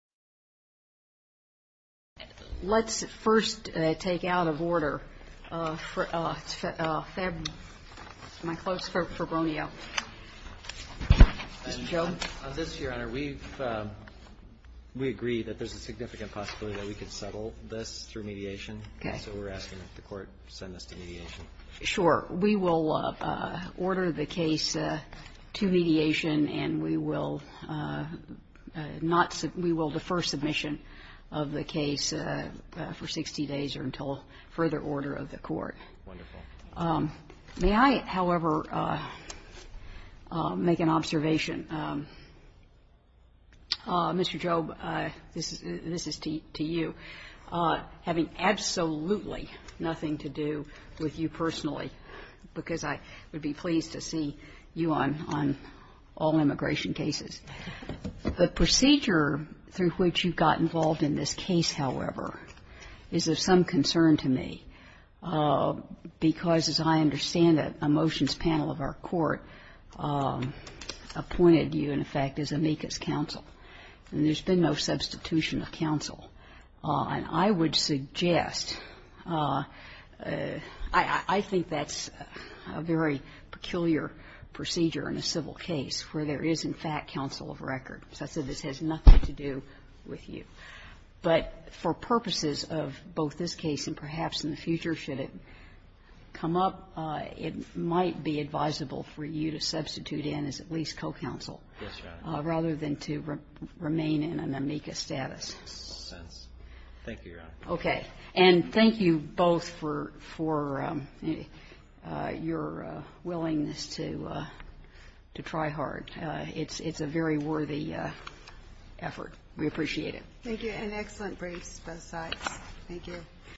Let's first take out of order Febronio v. Gonzales. On this, Your Honor, we agree that there's a significant possibility that we could settle this through mediation. So we're asking that the Court send this to mediation. Sure. We will order the case to mediation, and we will defer submission of the case for 60 days or until further order of the Court. Wonderful. May I, however, make an observation? Mr. Jobe, this is to you, having absolutely nothing to do with you personally, because I would be pleased to see you on all immigration cases. The procedure through which you got involved in this case, however, is of some concern to me, because, as I understand it, a motions panel of our Court appointed you, in effect, as amicus counsel. And there's been no substitution of counsel. And I would suggest, I think that's a very peculiar procedure in a civil case, where there is, in fact, counsel of record. As I said, this has nothing to do with you. But for purposes of both this case and perhaps in the future, should it come up, it might be advisable for you to substitute in as at least co-counsel. Yes, Your Honor. Rather than to remain in an amicus status. In a sense. Thank you, Your Honor. Okay. And thank you both for your willingness to try hard. It's a very worthy effort. We appreciate it. Thank you. And excellent briefs, both sides. Thank you.